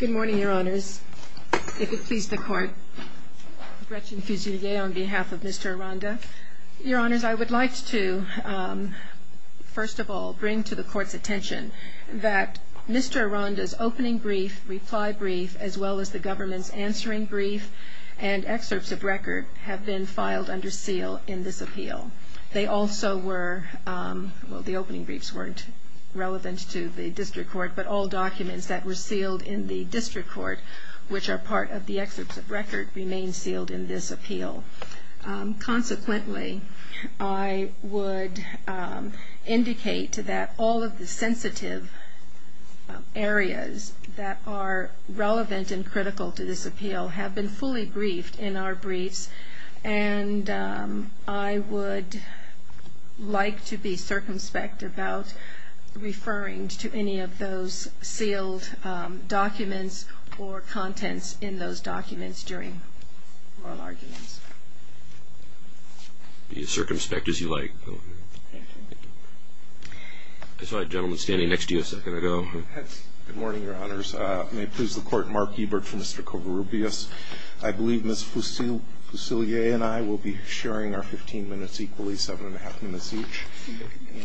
Good morning, Your Honors. If it please the Court, Gretchen Fusilier on behalf of Mr. Aranda. Your Honors, I would like to, first of all, bring to the Court's attention that Mr. Aranda's opening brief, reply brief, as well as the government's answering brief and excerpts of record have been filed under seal in this appeal. They also were, well the opening briefs weren't relevant to the District Court, but all documents that were sealed in the District Court, which are part of the excerpts of record, remain sealed in this appeal. Consequently, I would indicate that all of the sensitive areas that are relevant and critical to this appeal have been fully briefed in our briefs, and I would like to be circumspect about referring to any of those sealed documents or contents in those documents during oral arguments. Be as circumspect as you like. I saw a gentleman standing next to you a second ago. Good morning, Your Honors. May it please the Court, Mark Ebert for Mr. Covarrubias. I believe Ms. Fusilier and I will be sharing our 15 minutes equally, 7 1⁄2 minutes each.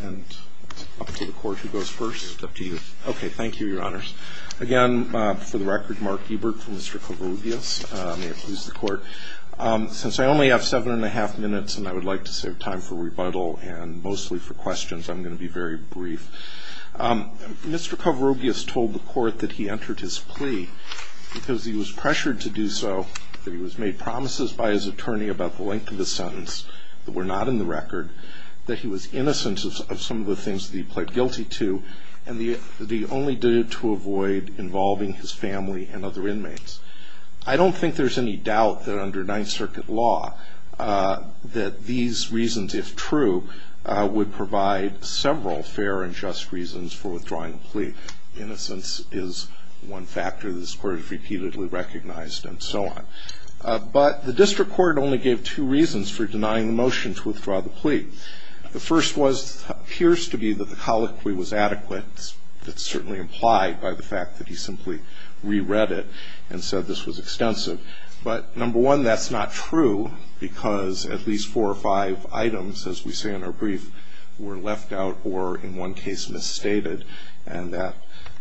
And up to the Court, who goes first? It's up to you. Okay, thank you, Your Honors. Again, for the record, Mark Ebert for Mr. Covarrubias. May it please the Court. Since I only have 7 1⁄2 minutes and I would like to save time for rebuttal and mostly for questions, I'm going to be very brief. Mr. Covarrubias told the Court that he entered his plea because he was pressured to do so, that he was made promises by his attorney about the length of the sentence that were not in the record, that he was innocent of some of the things that he pled guilty to, and that he only did it to avoid involving his family and other inmates. I don't think there's any doubt that under Ninth Circuit law that these reasons, if true, would provide several fair and just reasons for withdrawing the plea. Innocence is one factor that this Court has repeatedly recognized and so on. But the District Court only gave two reasons for denying the motion to withdraw the plea. The first was it appears to be that the colloquy was adequate. That's certainly implied by the fact that he simply re-read it and said this was extensive. But, number one, that's not true because at least four or five items, as we say in our brief, were left out or, in one case, misstated, and that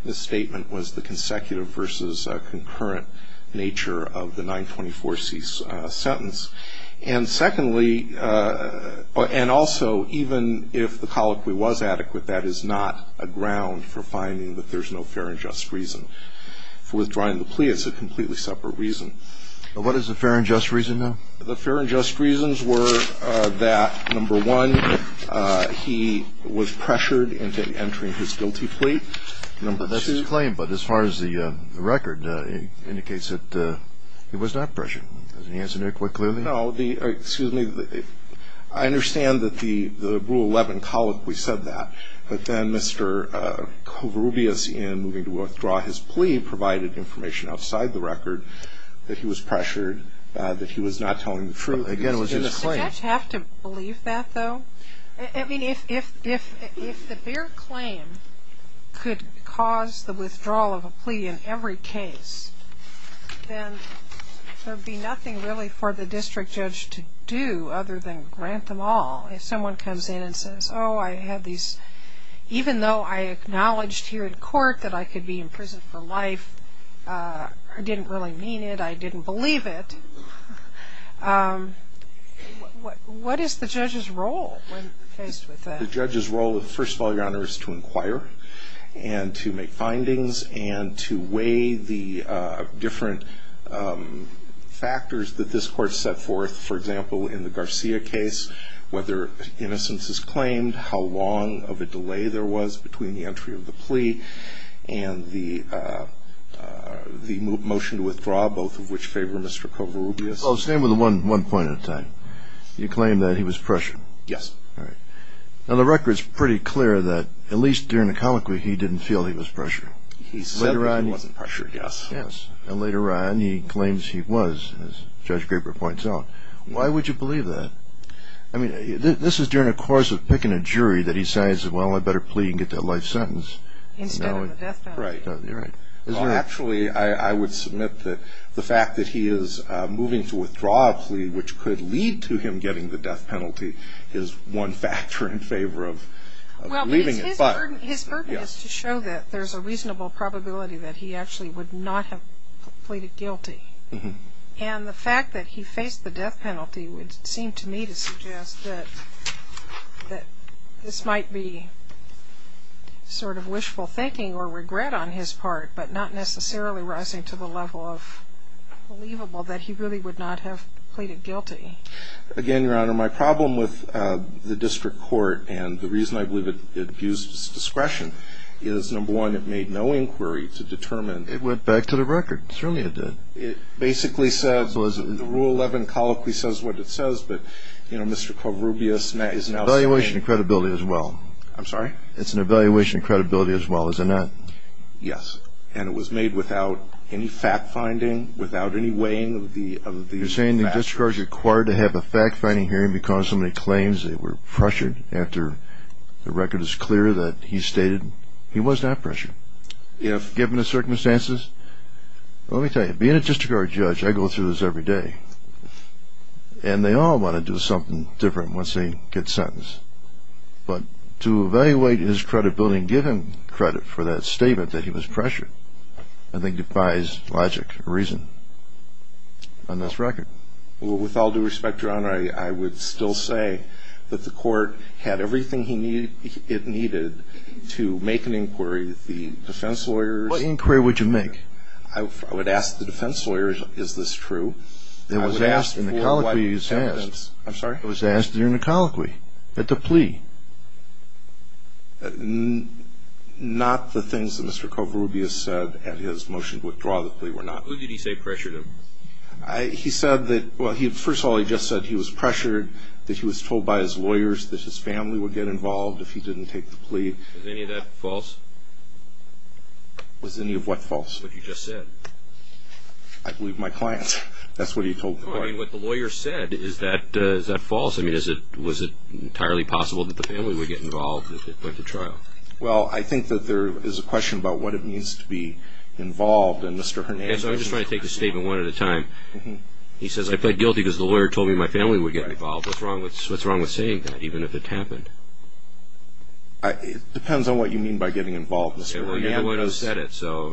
misstatement was the consecutive versus concurrent nature of the 924C sentence. And, secondly, and also even if the colloquy was adequate, that is not a ground for finding that there's no fair and just reason for withdrawing the plea. It's a completely separate reason. What is a fair and just reason, though? The fair and just reasons were that, number one, he was pressured into entering his guilty plea. That's his claim. But as far as the record, it indicates that he was not pressured. Doesn't he answer that quite clearly? No. Excuse me. I understand that the Rule 11 colloquy said that. But then Mr. Covarrubias, in moving to withdraw his plea, provided information outside the record that he was pressured, that he was not telling the truth. Again, it was his claim. Does the judge have to believe that, though? I mean, if the bare claim could cause the withdrawal of a plea in every case, then there would be nothing really for the district judge to do other than grant them all. If someone comes in and says, oh, I had these, even though I acknowledged here in court that I could be imprisoned for life, I didn't really mean it, I didn't believe it, what is the judge's role when faced with that? The judge's role, first of all, Your Honor, is to inquire and to make findings and to weigh the different factors that this court set forth. For example, in the Garcia case, whether innocence is claimed, how long of a delay there was between the entry of the plea and the motion to withdraw, both of which favor Mr. Covarrubias. Staying with one point at a time, you claim that he was pressured. Yes. All right. Now, the record is pretty clear that at least during the colloquy he didn't feel he was pressured. He said he wasn't pressured, yes. Yes. And later on he claims he was, as Judge Graper points out. Why would you believe that? I mean, this is during a course of picking a jury that he says, well, I better plea and get that life sentence. Instead of the death penalty. Right. You're right. Actually, I would submit that the fact that he is moving to withdraw a plea, which could lead to him getting the death penalty, is one factor in favor of leaving it. Well, his burden is to show that there's a reasonable probability that he actually would not have pleaded guilty. And the fact that he faced the death penalty would seem to me to suggest that this might be sort of wishful thinking or regret on his part, but not necessarily rising to the level of believable that he really would not have pleaded guilty. Again, Your Honor, my problem with the district court and the reason I believe it abused its discretion is, number one, it made no inquiry to determine. It went back to the record. It certainly did. It basically says, the Rule 11 colloquy says what it says, but, you know, Mr. Corrubias is now saying. It's an evaluation of credibility as well. I'm sorry? It's an evaluation of credibility as well, is it not? Yes. And it was made without any fact-finding, without any weighing of the facts. You're saying the district court is required to have a fact-finding hearing because so many claims were pressured after the record is clear that he stated he was not pressured. Given the circumstances, let me tell you, being a district court judge, I go through this every day, and they all want to do something different once they get sentenced. But to evaluate his credibility and give him credit for that statement that he was pressured, I think defies logic or reason on this record. I would still say that the court had everything it needed to make an inquiry. The defense lawyers. What inquiry would you make? I would ask the defense lawyers, is this true? I was asked in the colloquy. I'm sorry? I was asked during the colloquy at the plea. Not the things that Mr. Corrubias said at his motion to withdraw the plea were not. Who did he say pressured him? He said that, well, first of all, he just said he was pressured, that he was told by his lawyers that his family would get involved if he didn't take the plea. Was any of that false? Was any of what false? What you just said. I believe my clients. That's what he told the client. No, I mean, what the lawyer said, is that false? I mean, was it entirely possible that the family would get involved if it went to trial? Well, I think that there is a question about what it means to be involved, and Mr. Hernandez. I'm just trying to take the statement one at a time. He says, I plead guilty because the lawyer told me my family would get involved. What's wrong with saying that, even if it happened? It depends on what you mean by getting involved, Mr. Hernandez. Well, you're the one who said it, so.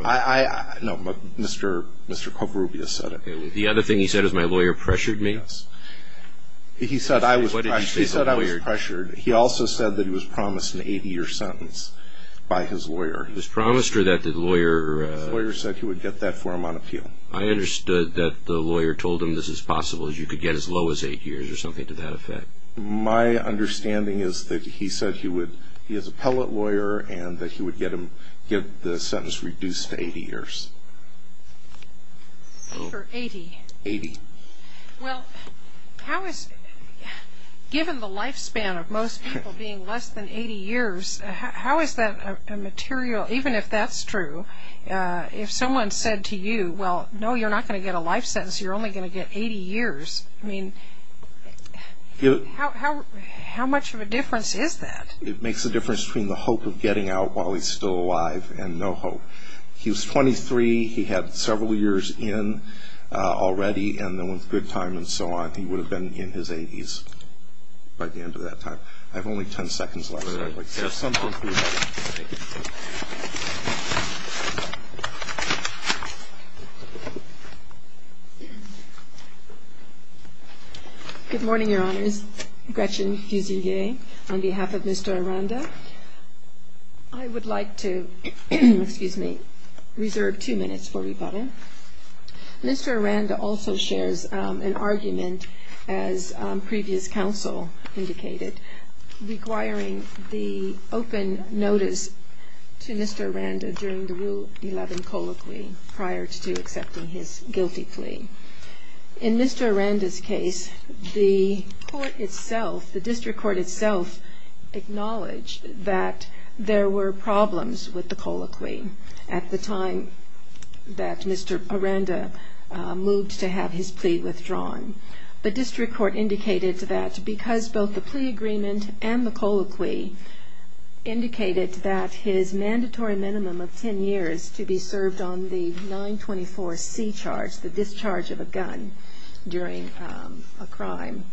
No, but Mr. Corrubias said it. The other thing he said is my lawyer pressured me. Yes. He said I was pressured. He said I was pressured. He also said that he was promised an 80-year sentence by his lawyer. He was promised or that the lawyer. The lawyer said he would get that for him on appeal. I understood that the lawyer told him this is possible, is you could get as low as eight years or something to that effect. My understanding is that he said he is a pellet lawyer and that he would get the sentence reduced to 80 years. For 80? 80. Well, how is, given the lifespan of most people being less than 80 years, how is that a material, even if that's true, if someone said to you, well, no, you're not going to get a life sentence. You're only going to get 80 years. I mean, how much of a difference is that? It makes a difference between the hope of getting out while he's still alive and no hope. He was 23. He had several years in already, and then with good time and so on, he would have been in his 80s by the end of that time. I have only 10 seconds left, so I'd like to have some conclusion. Thank you. Good morning, Your Honors. Gretchen Fusilier on behalf of Mr. Aranda. I would like to, excuse me, reserve two minutes for rebuttal. Mr. Aranda also shares an argument, as previous counsel indicated, requiring the open notice to Mr. Aranda during the Rule 11 colloquy prior to accepting his guilty plea. In Mr. Aranda's case, the court itself, the district court itself, acknowledged that there were problems with the colloquy at the time that Mr. Aranda moved to have his plea withdrawn. The district court indicated that because both the plea agreement and the colloquy indicated that his mandatory minimum of 10 years to be served on the 924C charge, the discharge of a gun during a crime,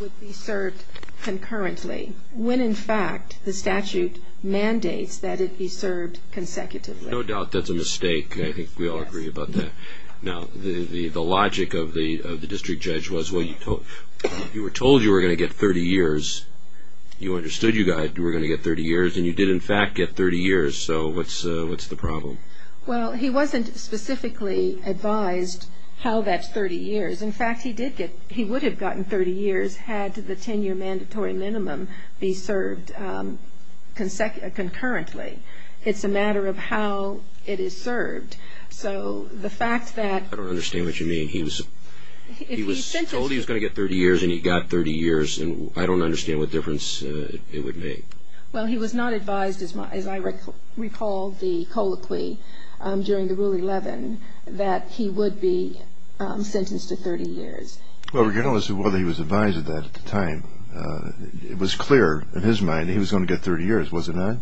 would be served concurrently when, in fact, the statute mandates that it be served consecutively. No doubt that's a mistake. I think we all agree about that. Now, the logic of the district judge was, well, you were told you were going to get 30 years. You understood you were going to get 30 years, and you did, in fact, get 30 years. So what's the problem? Well, he wasn't specifically advised how that's 30 years. In fact, he would have gotten 30 years had the 10-year mandatory minimum be served concurrently. It's a matter of how it is served. I don't understand what you mean. He was told he was going to get 30 years, and he got 30 years, and I don't understand what difference it would make. Well, he was not advised, as I recall the colloquy during the Rule 11, that he would be sentenced to 30 years. Well, regardless of whether he was advised of that at the time, it was clear in his mind he was going to get 30 years, wasn't it?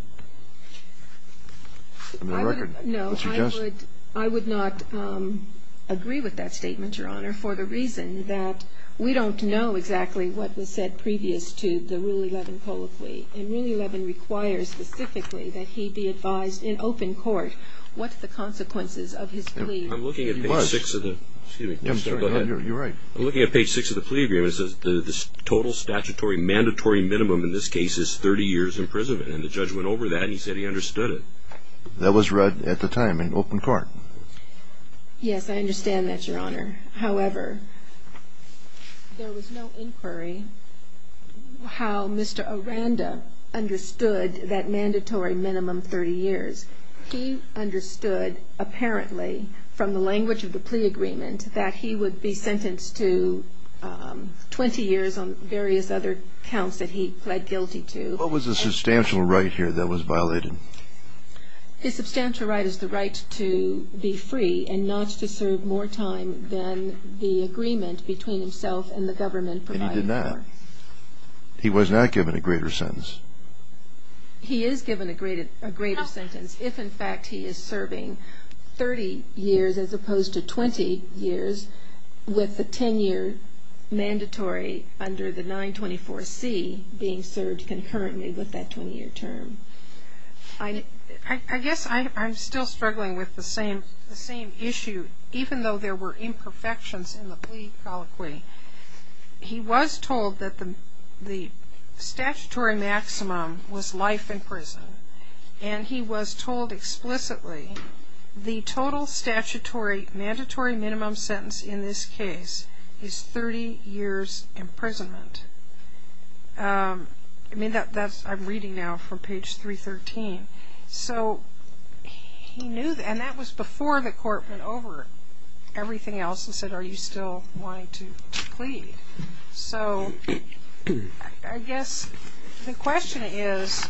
No, I would not agree with that statement, Your Honor, for the reason that we don't know exactly what was said previous to the Rule 11 colloquy, and Rule 11 requires specifically that he be advised in open court what the consequences of his plea were. I'm looking at page 6 of the plea agreement. It says the total statutory mandatory minimum in this case is 30 years in that was read at the time in open court. Yes, I understand that, Your Honor. However, there was no inquiry how Mr. Aranda understood that mandatory minimum 30 years. He understood apparently from the language of the plea agreement that he would be sentenced to 20 years on various other counts that he pled guilty to. What was the substantial right here that was violated? The substantial right is the right to be free and not to serve more time than the agreement between himself and the government provided for. And he did not. He was not given a greater sentence. He is given a greater sentence if, in fact, he is serving 30 years as opposed to 20 years with a 10-year mandatory under the 924C being served concurrently with that 20-year term. I guess I'm still struggling with the same issue, even though there were imperfections in the plea colloquy. He was told that the statutory maximum was life in prison, and he was told explicitly the total statutory mandatory minimum sentence in this case is 30 years' imprisonment. I mean, I'm reading now from page 313. So he knew, and that was before the court went over everything else and said, are you still wanting to plead? So I guess the question is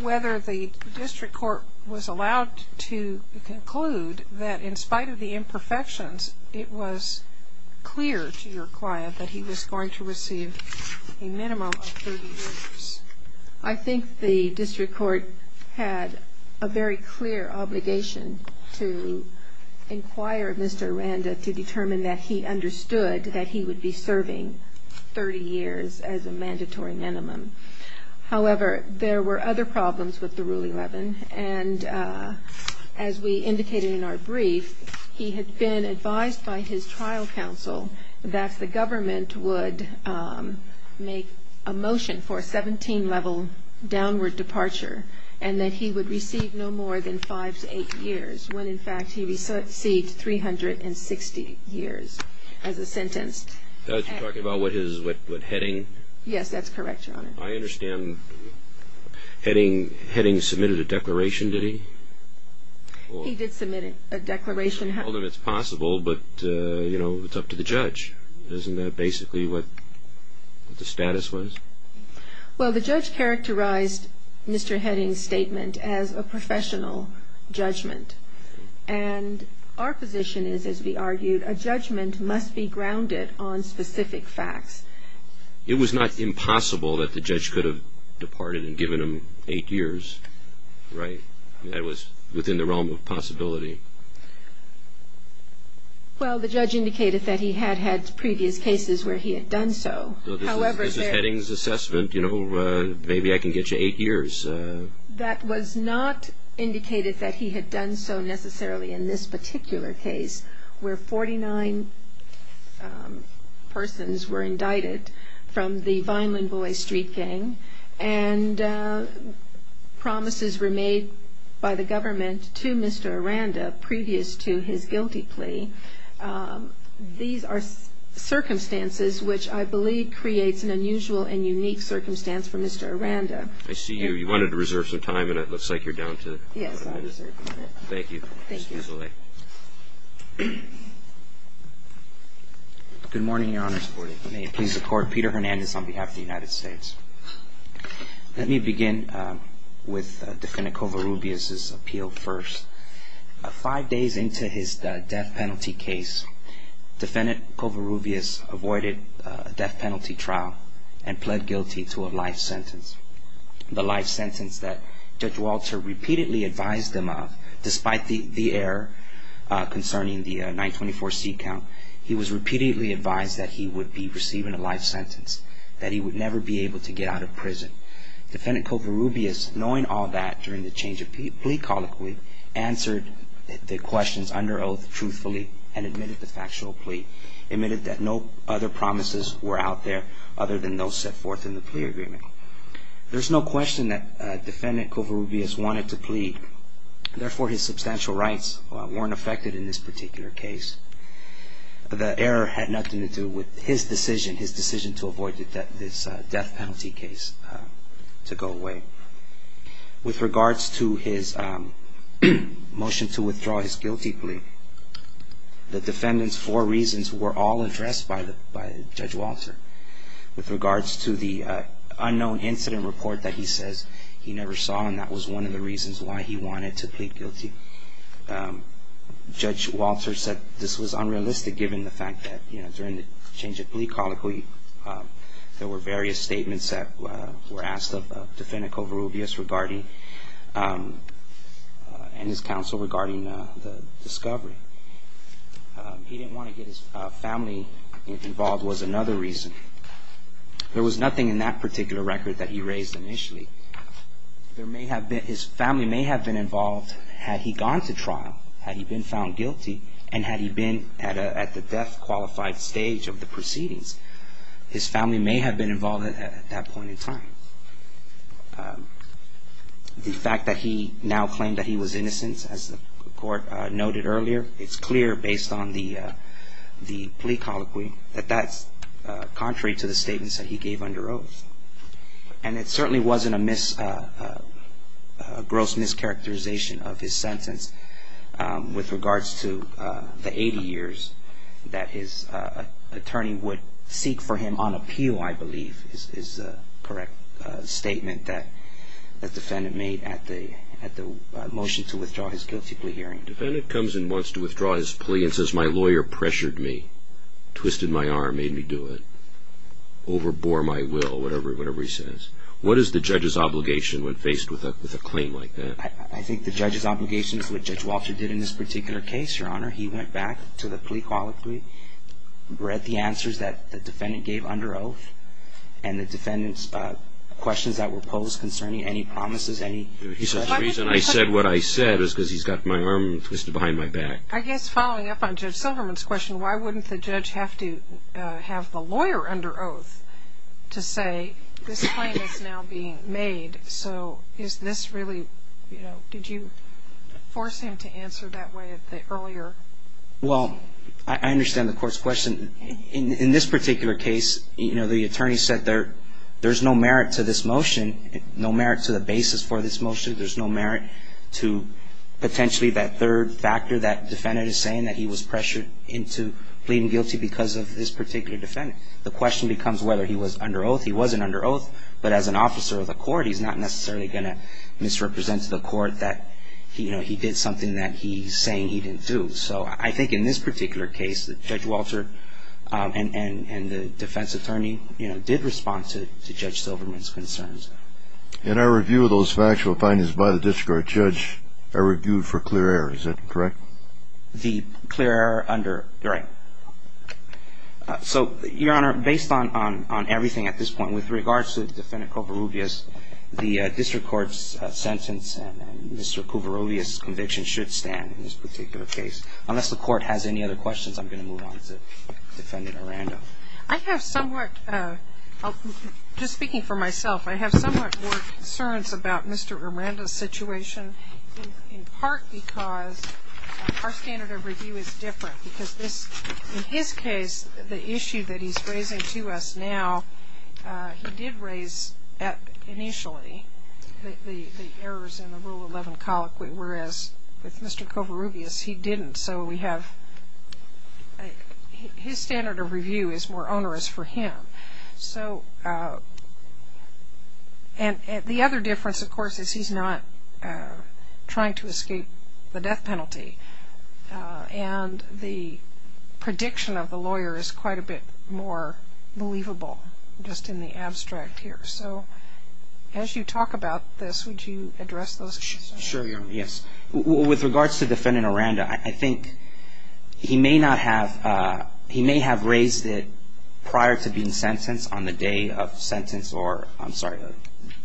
whether the district court was allowed to conclude that in spite of the imperfections it was clear to your client that he was going to receive a minimum of 30 years. I think the district court had a very clear obligation to inquire Mr. Aranda to determine that he understood that he would be serving 30 years as a mandatory minimum. However, there were other problems with the Rule 11, and as we indicated in our brief, he had been advised by his trial counsel that the government would make a motion for a 17-level downward departure and that he would receive no more than five to eight years, when in fact he received 360 years as a sentence. Are you talking about what heading? Yes, that's correct, Your Honor. I understand heading submitted a declaration, did he? He did submit a declaration. Well, then it's possible, but, you know, it's up to the judge. Isn't that basically what the status was? Well, the judge characterized Mr. Heading's statement as a professional judgment. And our position is, as we argued, a judgment must be grounded on specific facts. It was not impossible that the judge could have departed and given him eight years, right? That was within the realm of possibility. Well, the judge indicated that he had had previous cases where he had done so. This is Heading's assessment, you know, maybe I can get you eight years. That was not indicated that he had done so necessarily in this particular case, where 49 persons were indicted from the Vineland Boys street gang and promises were made by the government to Mr. Aranda previous to his guilty plea. These are circumstances which I believe creates an unusual and unique circumstance for Mr. Aranda. I see you. You wanted to reserve some time, and it looks like you're down to a minute. Yes, I reserve a minute. Thank you. Thank you. Excuse the delay. Good morning, Your Honor. Good morning. May it please the Court, Peter Hernandez on behalf of the United States. Let me begin with Defendant Covarrubias' appeal first. Five days into his death penalty case, Defendant Covarrubias avoided a death penalty trial and pled guilty to a life sentence, the life sentence that Judge Walter repeatedly advised him of, despite the error concerning the 924C count. He was repeatedly advised that he would be receiving a life sentence, that he would never be able to get out of prison. Defendant Covarrubias, knowing all that during the change of plea colloquy, answered the questions under oath truthfully and admitted the factual plea, admitted that no other promises were out there other than those set forth in the plea agreement. There's no question that Defendant Covarrubias wanted to plead. Therefore, his substantial rights weren't affected in this particular case. The error had nothing to do with his decision to avoid this death penalty case to go away. With regards to his motion to withdraw his guilty plea, the Defendant's four reasons were all addressed by Judge Walter. With regards to the unknown incident report that he says he never saw, that was one of the reasons why he wanted to plead guilty. Judge Walter said this was unrealistic given the fact that during the change of plea colloquy, there were various statements that were asked of Defendant Covarrubias regarding, and his counsel regarding the discovery. He didn't want to get his family involved was another reason. There was nothing in that particular record that he raised initially. His family may have been involved had he gone to trial, had he been found guilty, and had he been at the death qualified stage of the proceedings. His family may have been involved at that point in time. The fact that he now claimed that he was innocent, as the court noted earlier, it's clear based on the plea colloquy that that's contrary to the statements that he gave under oath. And it certainly wasn't a gross mischaracterization of his sentence. With regards to the 80 years that his attorney would seek for him on appeal, I believe, is the correct statement that the Defendant made at the motion to withdraw his guilty plea hearing. The Defendant comes and wants to withdraw his plea and says, my lawyer pressured me, twisted my arm, made me do it, overbore my will, whatever he says. What is the judge's obligation when faced with a claim like that? I think the judge's obligation is what Judge Walter did in this particular case, Your Honor. He went back to the plea colloquy, read the answers that the Defendant gave under oath, and the Defendant's questions that were posed concerning any promises, any questions. The reason I said what I said is because he's got my arm twisted behind my back. I guess following up on Judge Silverman's question, why wouldn't the judge have to have the lawyer under oath to say this claim is now being made? So is this really, you know, did you force him to answer that way earlier? Well, I understand the court's question. In this particular case, you know, the attorney said there's no merit to this motion, no merit to the basis for this motion, there's no merit to potentially that third factor, that Defendant is saying that he was pressured into pleading guilty because of this particular Defendant. The question becomes whether he was under oath. He wasn't under oath, but as an officer of the court, he's not necessarily going to misrepresent to the court that, you know, he did something that he's saying he didn't do. So I think in this particular case, Judge Walter and the defense attorney, you know, did respond to Judge Silverman's concerns. In our review of those factual findings by the district court judge, I reviewed for clear error, is that correct? The clear error under, you're right. So, Your Honor, based on everything at this point, with regards to Defendant Kouvaroubias, the district court's sentence and Mr. Kouvaroubias' conviction should stand in this particular case. Unless the court has any other questions, I'm going to move on to Defendant Arando. I have somewhat, just speaking for myself, I have somewhat more concerns about Mr. Arando's situation, in part because our standard of review is different because this, in his case, the issue that he's raising to us now, he did raise initially the errors in the Rule 11 colloquy, whereas with Mr. Kouvaroubias, he didn't. And so we have, his standard of review is more onerous for him. So, and the other difference, of course, is he's not trying to escape the death penalty. And the prediction of the lawyer is quite a bit more believable, just in the abstract here. So, as you talk about this, would you address those concerns? Sure, Your Honor, yes. With regards to Defendant Arando, I think he may not have, he may have raised it prior to being sentenced on the day of sentence or, I'm sorry,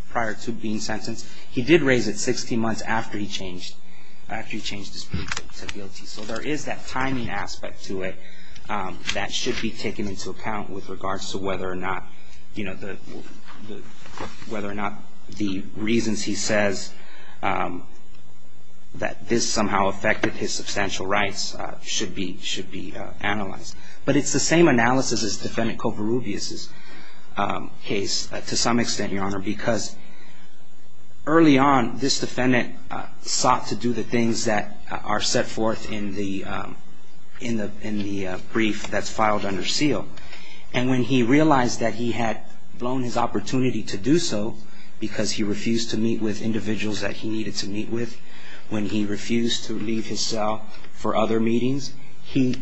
prior to being sentenced. He did raise it 60 months after he changed his predictability. So there is that timing aspect to it that should be taken into account with regards to whether or not, the reasons he says that this somehow affected his substantial rights should be analyzed. But it's the same analysis as Defendant Kouvaroubias' case, to some extent, Your Honor, because early on, this defendant sought to do the things that are set forth in the brief that's filed under seal. And when he realized that he had blown his opportunity to do so, because he refused to meet with individuals that he needed to meet with, when he refused to leave his cell for other meetings, he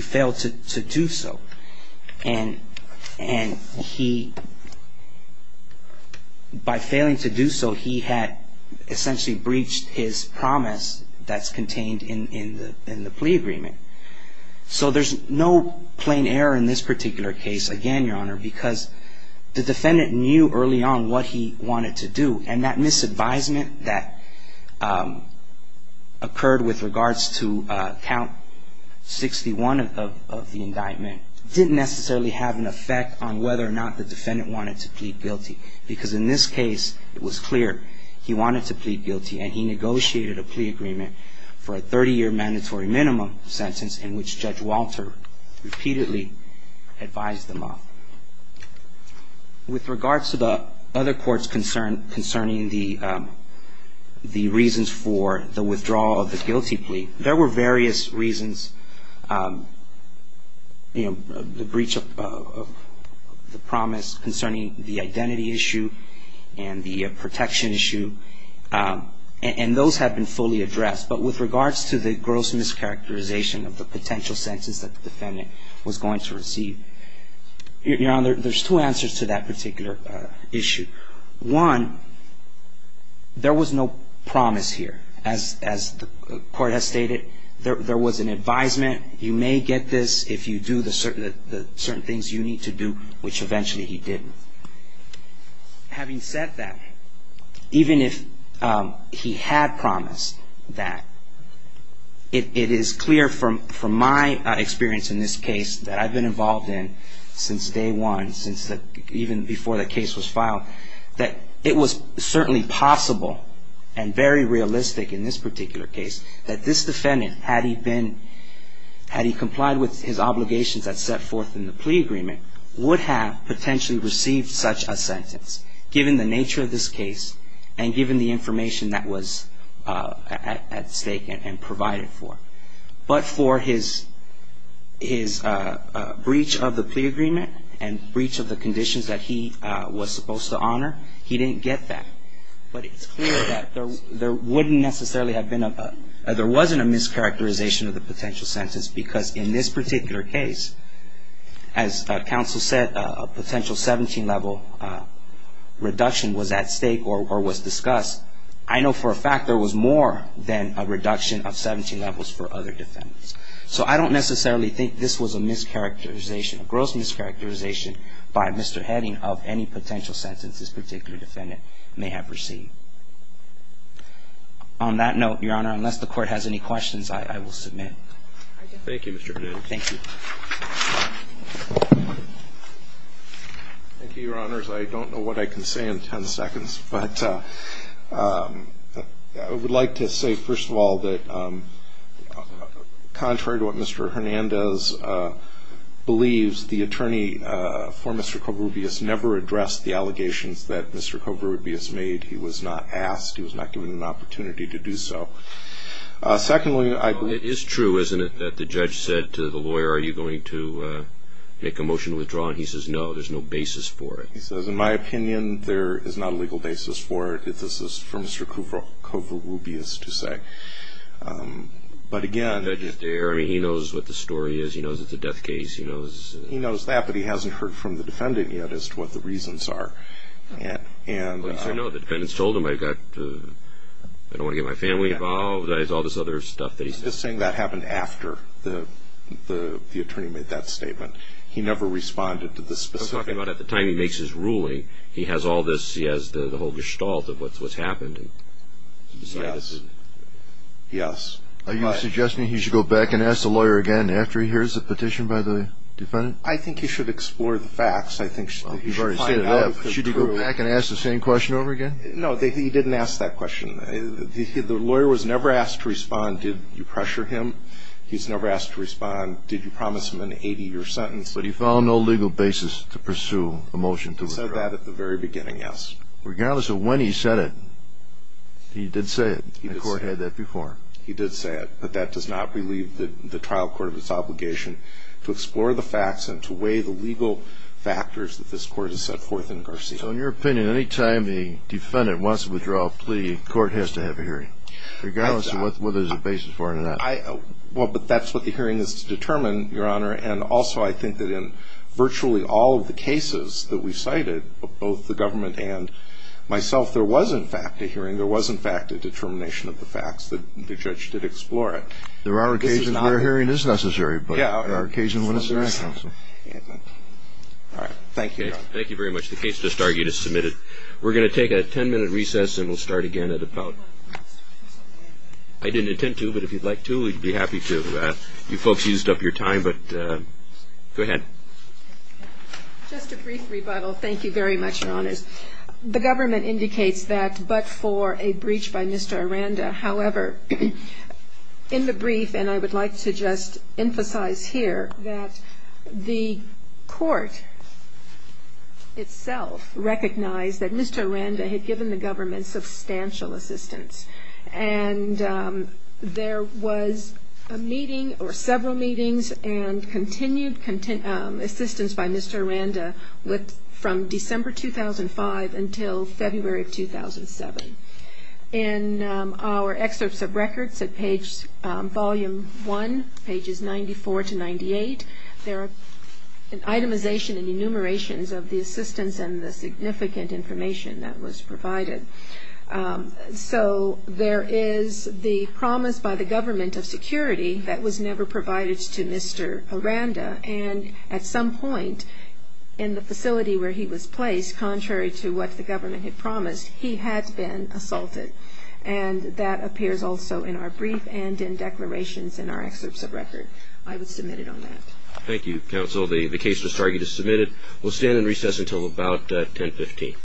failed to do so. And he, by failing to do so, he had essentially breached his promise that's contained in the plea agreement. So there's no plain error in this particular case, again, Your Honor, because the defendant knew early on what he wanted to do. And that misadvisement that occurred with regards to Count 61 of the indictment didn't necessarily have an effect on whether or not the defendant wanted to plead guilty. Because in this case, it was clear he wanted to plead guilty. And he negotiated a plea agreement for a 30-year mandatory minimum sentence in which Judge Walter repeatedly advised them of. With regards to the other courts concerning the reasons for the withdrawal of the guilty plea, there were various reasons, you know, the breach of the promise, concerning the identity issue and the protection issue. And those have been fully addressed. But with regards to the gross mischaracterization of the potential sentence that the defendant was going to receive, Your Honor, there's two answers to that particular issue. One, there was no promise here. As the court has stated, there was an advisement, you may get this if you do the certain things you need to do, which eventually he didn't. Having said that, even if he had promised that, it is clear from my experience in this case that I've been involved in since day one, even before the case was filed, that it was certainly possible and very realistic in this particular case that this defendant, had he been, had he complied with his obligations that set forth in the plea agreement, would have potentially received such a sentence, given the nature of this case and given the information that was at stake and provided for. But for his breach of the plea agreement and breach of the conditions that he was supposed to honor, he didn't get that. But it's clear that there wouldn't necessarily have been a, there wasn't a mischaracterization of the potential sentence because in this particular case, as counsel said, a potential 17-level reduction was at stake or was discussed. I know for a fact there was more than a reduction of 17 levels for other defendants. So I don't necessarily think this was a mischaracterization, a gross mischaracterization by Mr. Heading of any potential sentence this particular defendant may have received. On that note, Your Honor, unless the Court has any questions, I will submit. Thank you, Mr. Hernandez. Thank you. Thank you, Your Honors. I don't know what I can say in 10 seconds, but I would like to say, first of all, that contrary to what Mr. Hernandez believes, the attorney for Mr. Covarrubias never addressed the allegations that Mr. Covarrubias made. He was not asked. He was not given an opportunity to do so. Secondly, I believe It is true, isn't it, that the judge said to the lawyer, are you going to make a motion to withdraw? And he says, no, there's no basis for it. He says, in my opinion, there is not a legal basis for it. This is for Mr. Covarrubias to say. But again The judge is there. I mean, he knows what the story is. He knows it's a death case. He knows He knows that, but he hasn't heard from the defendant yet as to what the reasons are. Well, you say, no, the defendant's told him, I don't want to get my family involved. There's all this other stuff that he's He's just saying that happened after the attorney made that statement. He never responded to the specific I'm talking about at the time he makes his ruling. He has all this He has the whole gestalt of what's happened. Yes. Yes. Are you suggesting he should go back and ask the lawyer again after he hears the petition by the defendant? I think he should explore the facts. I think he should find out if it's true. Should he go back and ask the same question over again? No, he didn't ask that question. The lawyer was never asked to respond. Did you pressure him? He's never asked to respond. Did you promise him an 80-year sentence? But he found no legal basis to pursue a motion to withdraw. He said that at the very beginning, yes. Regardless of when he said it, he did say it. The court had that before. He did say it, but that does not relieve the trial court of its obligation to explore the facts and to weigh the legal factors that this court has set forth in Garcia. So in your opinion, any time the defendant wants to withdraw a plea, the court has to have a hearing? Regardless of whether there's a basis for it or not. Well, but that's what the hearing is to determine, Your Honor. And also I think that in virtually all of the cases that we cited, both the government and myself, there was, in fact, a hearing. There was, in fact, a determination of the facts. The judge did explore it. There are occasions where a hearing is necessary, but there are occasions when it's not necessary. All right. Thank you, Your Honor. Thank you very much. The case does start. You just submit it. We're going to take a 10-minute recess, and we'll start again at about 10. I didn't intend to, but if you'd like to, we'd be happy to. You folks used up your time, but go ahead. Just a brief rebuttal. Thank you very much, Your Honors. The government indicates that but for a breach by Mr. Aranda. However, in the brief, and I would like to just emphasize here, that the court itself recognized that Mr. Aranda had given the government substantial assistance, and there was a meeting or several meetings and continued assistance by Mr. Aranda from December 2005 until February of 2007. In our excerpts of records at page volume 1, pages 94 to 98, there are itemization and enumerations of the assistance and the significant information that was provided. So there is the promise by the government of security that was never provided to Mr. Aranda, and at some point in the facility where he was placed, contrary to what the government had promised, he had been assaulted. And that appears also in our brief and in declarations in our excerpts of record. I would submit it on that. Thank you, counsel. The case was targeted as submitted. We'll stand in recess until about 10.15.